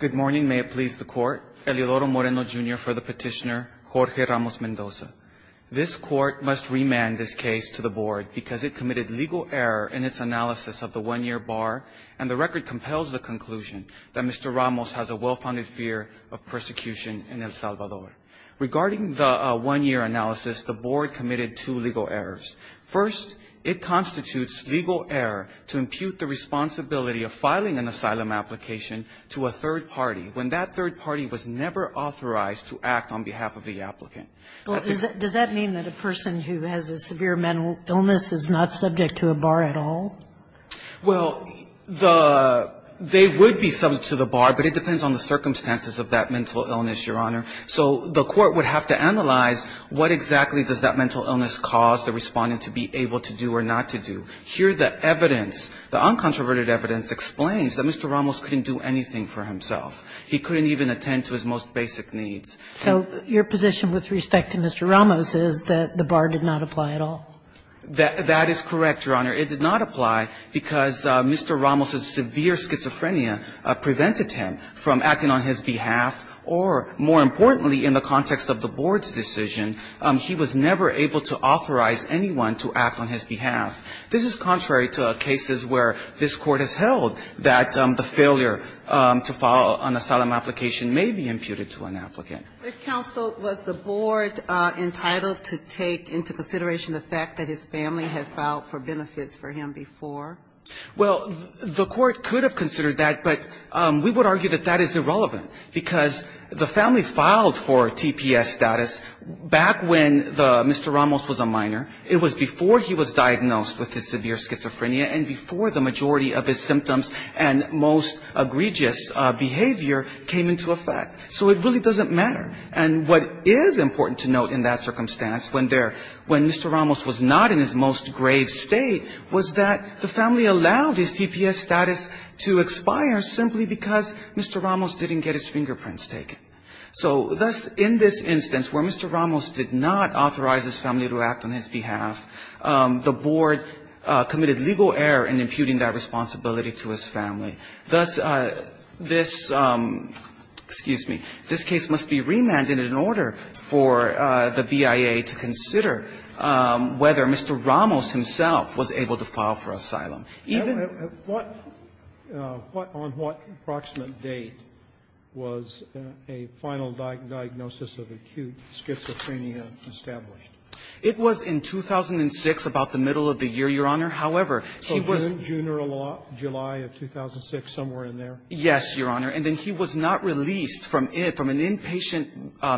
Good morning. May it please the court. Elidoro Moreno, Jr. for the petitioner, Jorge Ramos Mendoza. This court must remand this case to the board because it committed legal error in its analysis of the one-year bar, and the record compels the conclusion that Mr. Ramos has a well-founded fear of persecution in El Salvador. Regarding the one-year analysis, the board committed two legal errors. First, it constitutes legal error to impute the responsibility of filing an asylum application to a third party when that third party was never authorized to act on behalf of the applicant. Does that mean that a person who has a severe mental illness is not subject to a bar at all? Well, they would be subject to the bar, but it depends on the circumstances of that mental illness, Your Honor. So the court would have to analyze what exactly does that mental illness cause the respondent to be able to do or not to do. Here the evidence, the uncontroverted evidence, explains that Mr. Ramos couldn't do anything for himself. He couldn't even attend to his most basic needs. So your position with respect to Mr. Ramos is that the bar did not apply at all? That is correct, Your Honor. It did not apply because Mr. Ramos's severe schizophrenia prevented him from acting on his behalf or, more importantly, in the context of the board's decision, he was never able to authorize anyone to act on his behalf. This is contrary to cases where this Court has held that the failure to file an asylum application may be imputed to an applicant. But, counsel, was the board entitled to take into consideration the fact that his family had filed for benefits for him before? Well, the court could have considered that, but we would argue that that is irrelevant, because the family filed for TPS status back when Mr. Ramos was a minor. It was before he was diagnosed with his severe schizophrenia and before the majority of his symptoms and most egregious behavior came into effect. So it really doesn't matter. And what is important to note in that circumstance when Mr. Ramos was not in his most grave state was that the family allowed his TPS status to expire simply because Mr. Ramos didn't get his fingerprints taken. So thus, in this instance where Mr. Ramos did not authorize his family to act on his behalf, the board committed legal error in imputing that responsibility to his family. Thus, this, excuse me, this case must be remanded in order for the BIA to consider whether Mr. Ramos himself was able to file for asylum. Even at what, on what approximate date was a final diagnosis of acute schizophrenia established? It was in 2006, about the middle of the year, Your Honor. 2006, somewhere in there? Yes, Your Honor. And then he was not released from an inpatient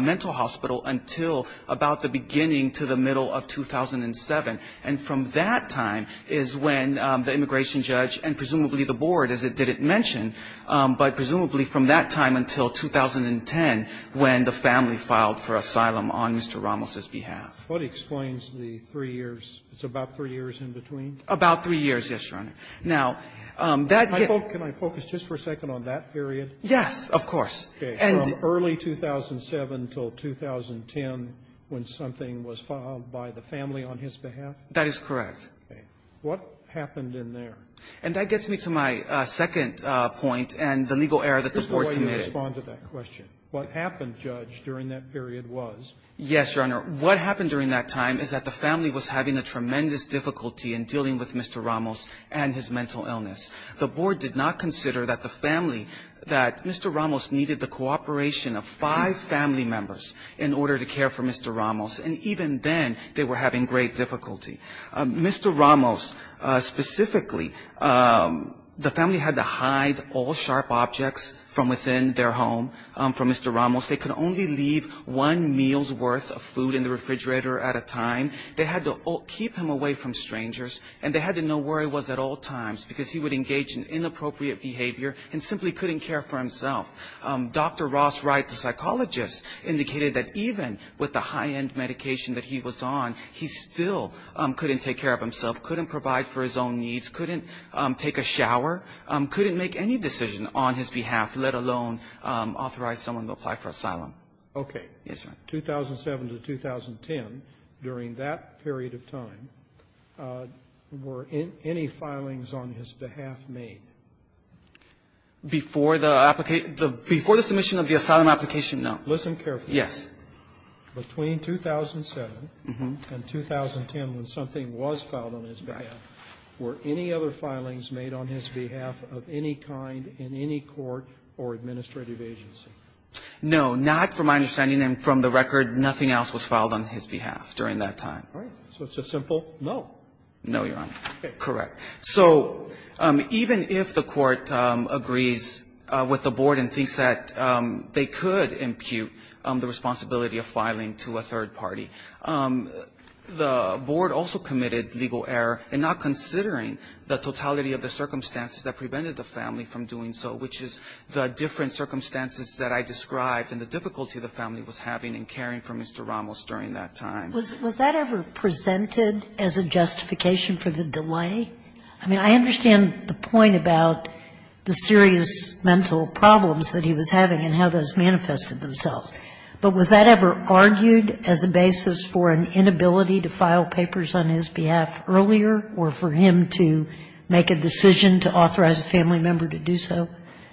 mental hospital until about the beginning to the middle of 2007. And from that time is when the immigration judge and presumably the board, as it didn't mention, but presumably from that time until 2010 when the family filed for asylum on Mr. Ramos's behalf. What explains the three years? It's about three years in between? About three years, yes, Your Honor. Now, that gets me. Can I focus just for a second on that period? Yes, of course. Okay. From early 2007 until 2010 when something was filed by the family on his behalf? That is correct. Okay. What happened in there? And that gets me to my second point and the legal error that the board committed. Just before you respond to that question, what happened, Judge, during that period was? Yes, Your Honor. What happened during that time is that the family was having a tremendous difficulty in dealing with Mr. Ramos and his mental illness. The board did not consider that the family, that Mr. Ramos needed the cooperation of five family members in order to care for Mr. Ramos. And even then they were having great difficulty. Mr. Ramos specifically, the family had to hide all sharp objects from within their home from Mr. Ramos. They could only leave one meal's worth of food in the refrigerator at a time. They had to keep him away from strangers and they had to know where he was at all times because he would engage in inappropriate behavior and simply couldn't care for himself. Dr. Ross Wright, the psychologist, indicated that even with the high-end medication that he was on, he still couldn't take care of himself, couldn't provide for his own needs, couldn't take a shower, couldn't make any decision on his behalf, let alone Yes, Your Honor. 2007 to 2010, during that period of time, were any filings on his behalf made? Before the application of the asylum application, no. Listen carefully. Yes. Between 2007 and 2010, when something was filed on his behalf, were any other filings made on his behalf of any kind in any court or administrative agency? No. Not from my understanding and from the record. Nothing else was filed on his behalf during that time. All right. So it's a simple no. No, Your Honor. Okay. Correct. So even if the Court agrees with the Board and thinks that they could impute the responsibility of filing to a third party, the Board also committed legal error in not considering the totality of the circumstances that prevented the family from doing so, which is the different circumstances that I described and the difficulty the family was having in caring for Mr. Ramos during that time. Was that ever presented as a justification for the delay? I mean, I understand the point about the serious mental problems that he was having and how those manifested themselves, but was that ever argued as a basis for an inability to file papers on his behalf earlier or for him to make a decision to authorize a family member to do so?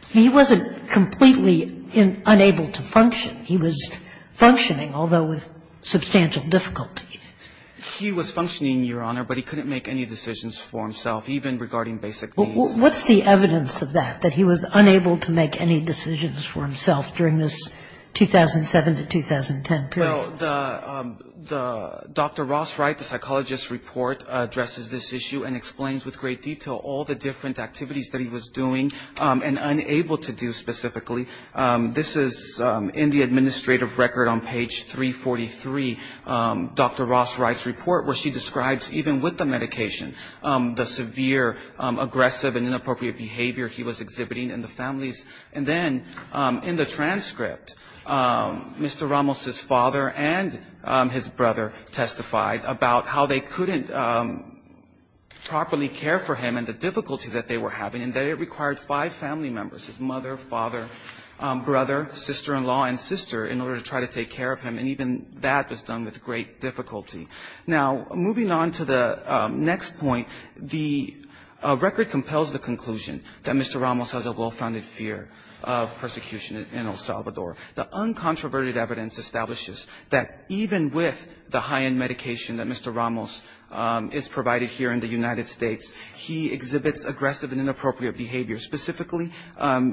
He wasn't completely unable to function. He was functioning, although with substantial difficulty. He was functioning, Your Honor, but he couldn't make any decisions for himself, even regarding basic needs. What's the evidence of that, that he was unable to make any decisions for himself during this 2007 to 2010 period? Well, the Dr. Ross Wright, the psychologist's report, addresses this issue and explains with great detail all the different activities that he was doing and unable to do specifically. This is in the administrative record on page 343, Dr. Ross Wright's report, where she describes, even with the medication, the severe, aggressive, and inappropriate behavior he was exhibiting in the families. And then in the transcript, Mr. Ramos's father and his brother testified about how they cared for him and the difficulty that they were having and that it required five family members, his mother, father, brother, sister-in-law, and sister, in order to try to take care of him, and even that was done with great difficulty. Now, moving on to the next point, the record compels the conclusion that Mr. Ramos has a well-founded fear of persecution in El Salvador. The uncontroverted evidence establishes that even with the high-end medication that Mr. Ramos is provided here in the United States, he exhibits aggressive and inappropriate behavior. Specifically,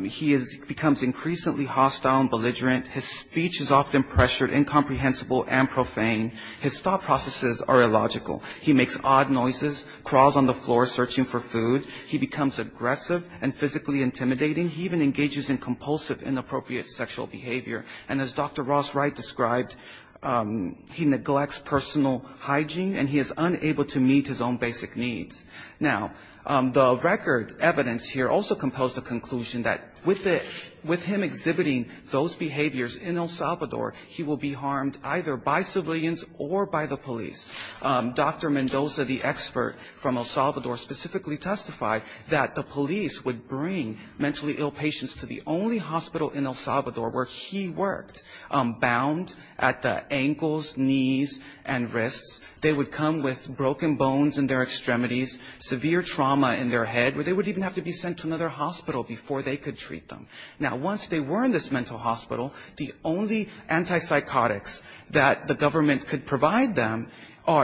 he becomes increasingly hostile and belligerent. His speech is often pressured, incomprehensible, and profane. His thought processes are illogical. He makes odd noises, crawls on the floor searching for food. He becomes aggressive and physically intimidating. He even engages in compulsive, inappropriate sexual behavior. And as Dr. Ross Wright described, he neglects personal hygiene, and he is unable to meet his own basic needs. Now, the record evidence here also compels the conclusion that with him exhibiting those behaviors in El Salvador, he will be harmed either by civilians or by the police. Dr. Mendoza, the expert from El Salvador, specifically testified that the police would bring mentally ill patients to the only hospital in El Salvador where he worked, bound at the ankles, knees, and wrists. They would come with broken bones in their extremities, severe trauma in their head, where they would even have to be sent to another hospital before they could treat them. Now, once they were in this mental hospital, the only antipsychotics that the government could provide them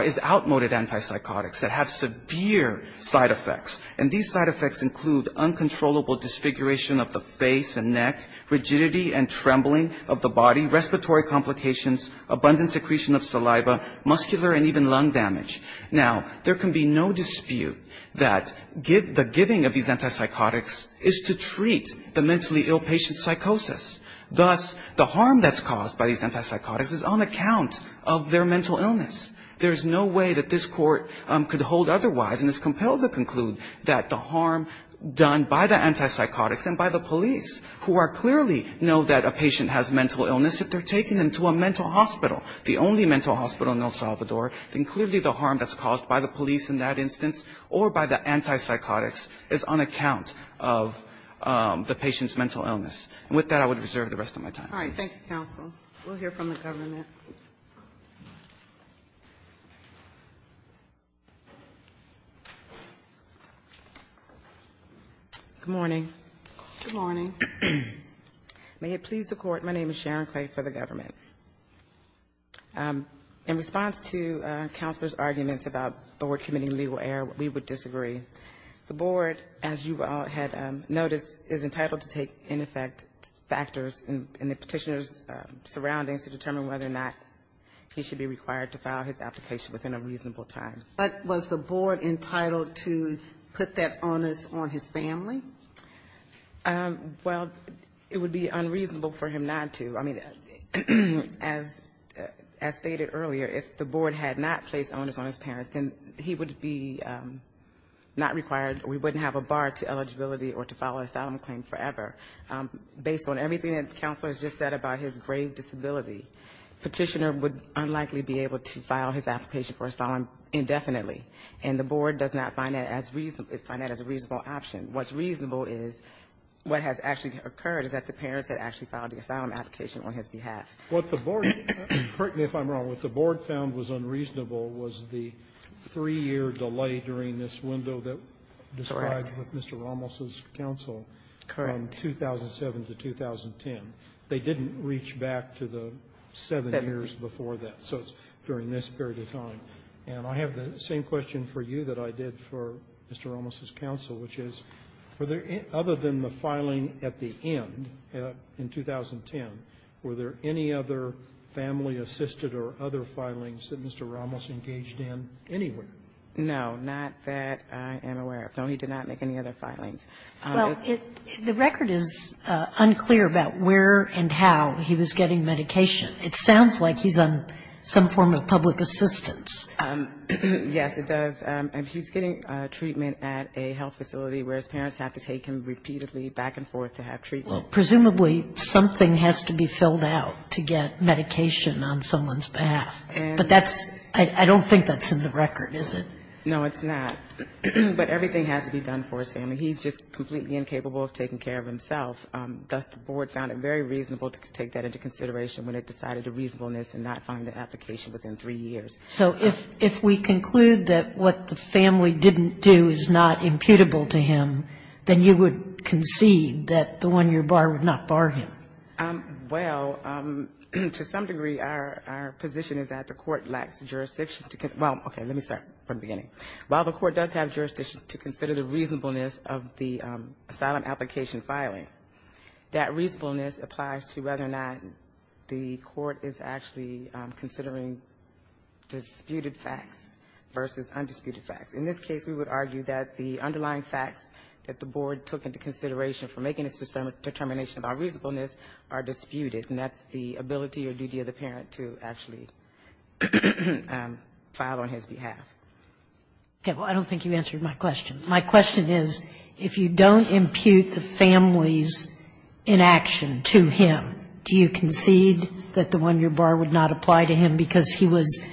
is outmoded antipsychotics that have severe side effects. And these side effects include uncontrollable disfiguration of the face and neck, rigidity and trembling of the body, respiratory complications, abundant secretion of saliva, muscular and even lung damage. Now, there can be no dispute that the giving of these antipsychotics is to treat the mentally ill patient's psychosis. Thus, the harm that's caused by these antipsychotics is on account of their mental illness. There's no way that this Court could hold otherwise and is compelled to conclude that the harm done by the antipsychotics and by the police, who clearly know that a patient has mental illness, if they're taking them to a mental hospital, the only mental hospital in El Salvador, then clearly the harm that's caused by the police in that instance or by the antipsychotics is on account of the patient's mental illness. And with that, I would reserve the rest of my time. All right. Thank you, counsel. We'll hear from the government. Good morning. Good morning. May it please the Court, my name is Sharon Clay for the government. In response to Counselor's arguments about the Board committing legal error, we would disagree. The Board, as you all had noticed, is entitled to take, in effect, factors in the Petitioner's surroundings to determine whether or not he should be required to file his application within a reasonable time. But was the Board entitled to put that on his family? Well, it would be unreasonable for him not to. I mean, as stated earlier, if the Board had not placed onus on his parents, then he would be not required or he wouldn't have a bar to eligibility or to file an asylum claim forever. Based on everything that Counselor has just said about his grave disability, Petitioner would unlikely be able to file his application for asylum indefinitely, and the Board does not find that as a reasonable option. What's reasonable is what has actually occurred is that the parents had actually filed the asylum application on his behalf. What the Board, correct me if I'm wrong, what the Board found was unreasonable was the three-year delay during this window that was described with Mr. Ramos's counsel from 2007 to 2010. They didn't reach back to the seven years before that. So it's during this period of time. And I have the same question for you that I did for Mr. Ramos's counsel, which is were there, other than the filing at the end, in 2010, were there any other family-assisted or other filings that Mr. Ramos engaged in anywhere? No, not that I am aware of. No, he did not make any other filings. Well, the record is unclear about where and how he was getting medication. It sounds like he's on some form of public assistance. Yes, it does. He's getting treatment at a health facility where his parents have to take him repeatedly back and forth to have treatment. Well, presumably something has to be filled out to get medication on someone's behalf. But that's – I don't think that's in the record, is it? No, it's not. But everything has to be done for his family. He's just completely incapable of taking care of himself. Thus, the board found it very reasonable to take that into consideration when it decided the reasonableness and not filing the application within three years. So if we conclude that what the family didn't do is not imputable to him, then you would concede that the one-year bar would not bar him? Well, to some degree, our position is that the court lacks jurisdiction to – well, okay, let me start from the beginning. While the court does have jurisdiction to consider the reasonableness of the asylum application filing, that reasonableness applies to whether or not the court is actually considering disputed facts versus undisputed facts. In this case, we would argue that the underlying facts that the board took into consideration for making its determination about reasonableness are disputed, and that's the ability or duty of the parent to actually file on his behalf. Okay. Well, I don't think you answered my question. My question is, if you don't impute the family's inaction to him, do you concede that the one-year bar would not apply to him because he was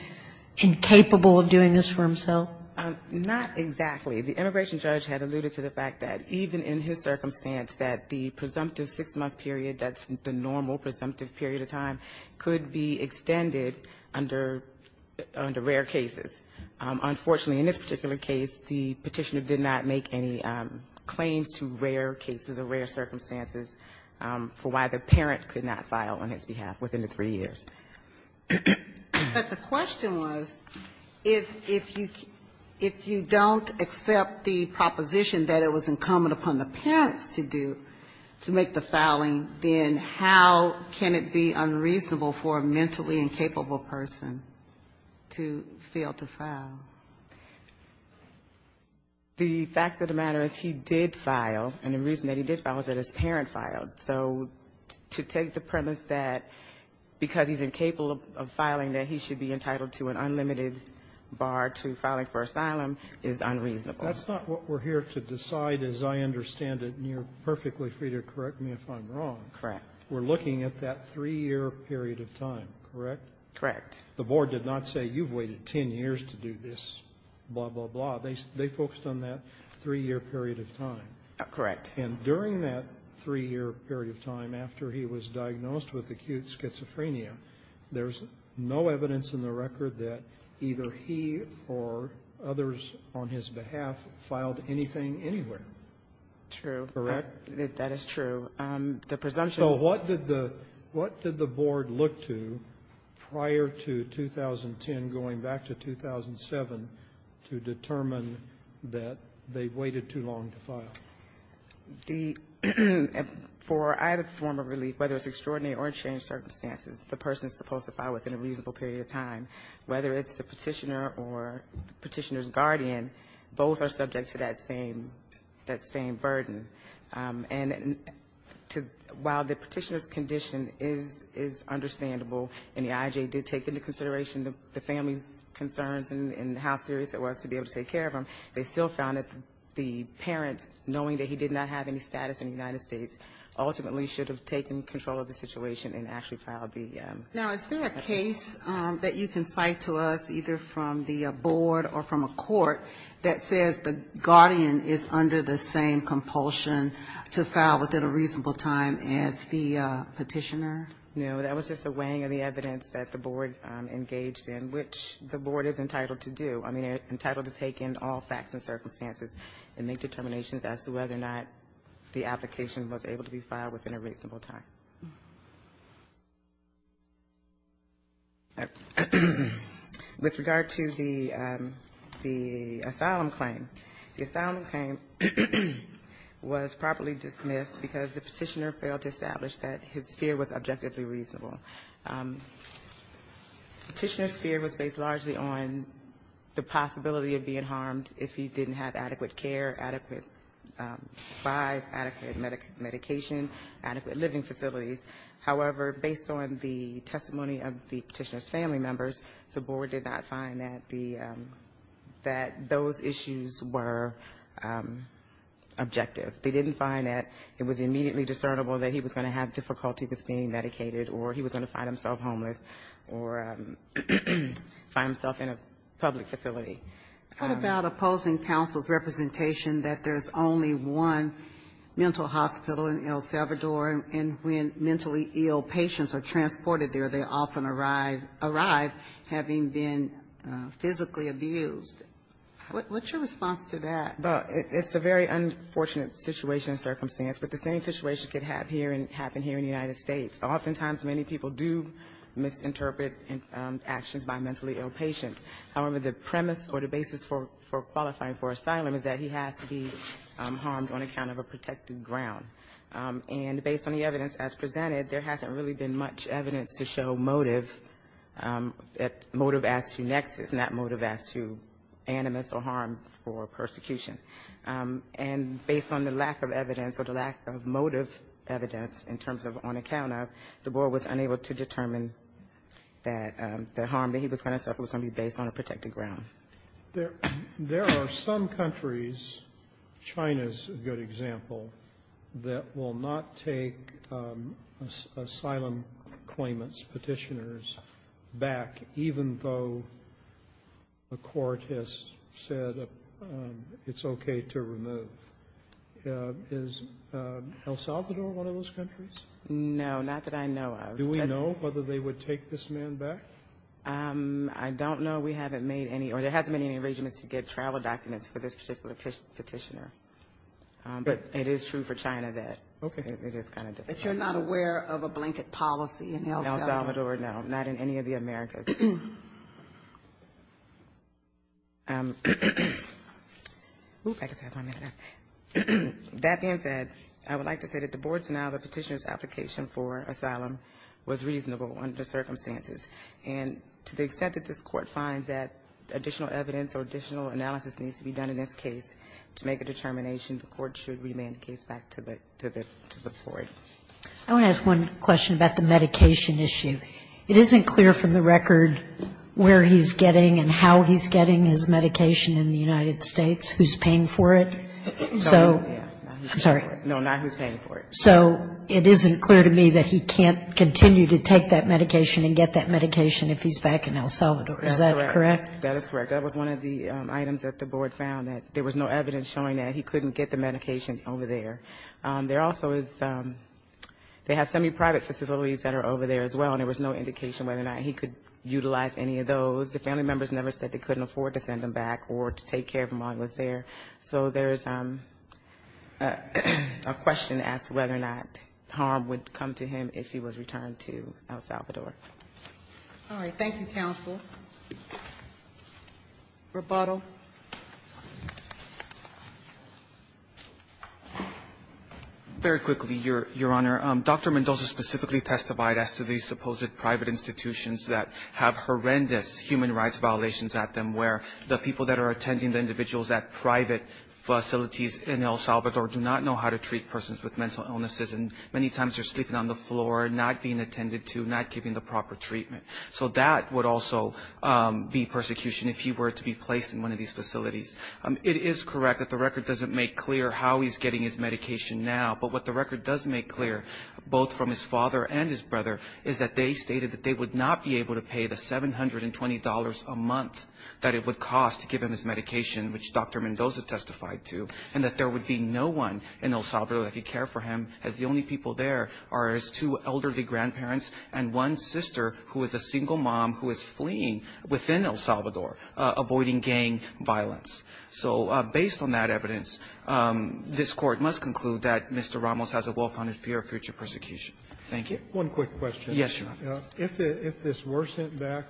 incapable of doing this for himself? Not exactly. The immigration judge had alluded to the fact that even in his circumstance that the presumptive six-month period, that's the normal presumptive period of time, could be extended under rare cases. Unfortunately, in this particular case, the Petitioner did not make any claims to rare cases or rare circumstances for why the parent could not file on his behalf within the three years. But the question was, if you don't accept the proposition that it was incumbent upon the parents to do, to make the filing, then how can it be unreasonable for a mentally incapable person to fail to file? The fact of the matter is he did file, and the reason that he did file is that his parent filed. So to take the premise that because he's incapable of filing that he should be entitled to an unlimited bar to filing for asylum is unreasonable. That's not what we're here to decide, as I understand it, and you're perfectly free to correct me if I'm wrong. Correct. We're looking at that three-year period of time, correct? Correct. The Board did not say you've waited 10 years to do this, blah, blah, blah. They focused on that three-year period of time. Correct. And during that three-year period of time after he was diagnosed with acute schizophrenia, there's no evidence in the record that either he or others on his behalf filed anything anywhere. Correct? That is true. So what did the Board look to prior to 2010 going back to 2007 to determine that they waited too long to file? For either form of relief, whether it's extraordinary or unchanged circumstances, the person is supposed to file within a reasonable period of time. Whether it's the Petitioner or the Petitioner's guardian, both are subject to that same burden. And while the Petitioner's condition is understandable and the IJ did take into consideration the family's concerns and how serious it was to be able to take care of him, they still found that the parent, knowing that he did not have any status in the United States, ultimately should have taken control of the situation and actually filed the petition. Now, is there a case that you can cite to us, either from the Board or from a court, that says the guardian is under the same compulsion to file within a reasonable time as the Petitioner? No, that was just a weighing of the evidence that the Board engaged in, which the Board is entitled to do. I mean, entitled to take in all facts and circumstances and make determinations as to whether or not the application was able to be filed within a reasonable time. With regard to the asylum claim, the asylum claim was properly dismissed because the Petitioner failed to establish that his fear was objectively reasonable. Petitioner's fear was based largely on the possibility of being harmed if he didn't have adequate care, adequate supplies, adequate medication, adequate living facilities, however, based on the testimony of the Petitioner's family members, the Board did not find that the, that those issues were objective. They didn't find that it was immediately discernible that he was going to have difficulty with being medicated or he was going to find himself homeless or find himself in a public facility. What about opposing counsel's representation that there's only one mental hospital in El Salvador, and when mentally ill patients are transported there, they often arrive having been physically abused? What's your response to that? Well, it's a very unfortunate situation and circumstance, but the same situation could happen here in the United States. Oftentimes, many people do misinterpret actions by mentally ill patients. However, the premise or the basis for qualifying for asylum is that he has to be harmed on account of a protected ground. And based on the evidence as presented, there hasn't really been much evidence to show motive, motive as to nexus, not motive as to animus or harm for persecution. And based on the lack of evidence or the lack of motive evidence in terms of on account of, the Board was unable to determine that the harm that he was going to suffer was going to be based on a protected ground. There are some countries, China's a good example, that will not take asylum claimants, Petitioners, back even though a court has said it's okay to remove. Is El Salvador one of those countries? No, not that I know of. Do we know whether they would take this man back? I don't know. We haven't made any, or there hasn't been any arrangements to get travel documents for this particular petitioner. But it is true for China that it is kind of different. But you're not aware of a blanket policy in El Salvador? El Salvador, no. Not in any of the Americas. That being said, I would like to say that the Board's now, the petitioner's application for asylum was reasonable under circumstances. And to the extent that this Court finds that additional evidence or additional analysis needs to be done in this case, to make a determination, the Court should remand the case back to the Board. I want to ask one question about the medication issue. It isn't clear from the record where he's getting and how he's getting his medication in the United States, who's paying for it. I'm sorry. No, not who's paying for it. So it isn't clear to me that he can't continue to take that medication and get that medication if he's back in El Salvador. Is that correct? That is correct. That was one of the items that the Board found, that there was no evidence showing that he couldn't get the medication over there. There also is, they have some new private facilities that are over there as well, and there was no indication whether or not he could utilize any of those. The family members never said they could. So there was a question as to whether or not harm would come to him if he was returned to El Salvador. All right. Thank you, counsel. Rebuttal. Very quickly, Your Honor. Dr. Mendoza specifically testified as to the supposed private institutions that have horrendous human rights violations at them, where the people that are attending the individuals at private facilities in El Salvador do not know how to treat persons with mental illnesses, and many times they're sleeping on the floor, not being attended to, not giving the proper treatment. So that would also be persecution if he were to be placed in one of these facilities. It is correct that the record doesn't make clear how he's getting his medication now, but what the record does make clear, both from his father and his brother, is that they stated that they would not be able to pay the $720 a month that it would cost to give him his medication, which Dr. Mendoza testified to, and that there would be no one in El Salvador that could care for him, as the only people there are his two elderly grandparents and one sister who is a single mom who is fleeing within El Salvador, avoiding gang violence. So based on that evidence, this Court must conclude that Mr. Ramos has a well-founded fear of future persecution. Thank you. Roberts. One quick question. Yes, Your Honor. If this were sent back,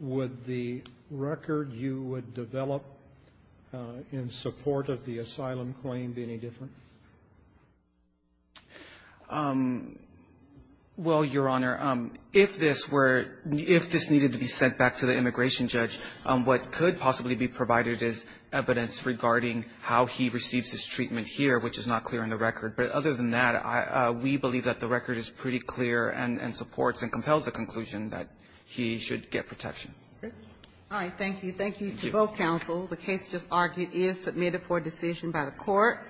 would the record you would develop in support of the asylum claim be any different? Well, Your Honor, if this were to be sent back to the immigration judge, what could possibly be provided is evidence regarding how he receives his treatment here, which is not clear in the record. But other than that, we believe that the record is pretty clear and supports and compels the conclusion that he should get protection. All right. Thank you. Thank you to both counsel. The case just argued is submitted for decision by the Court.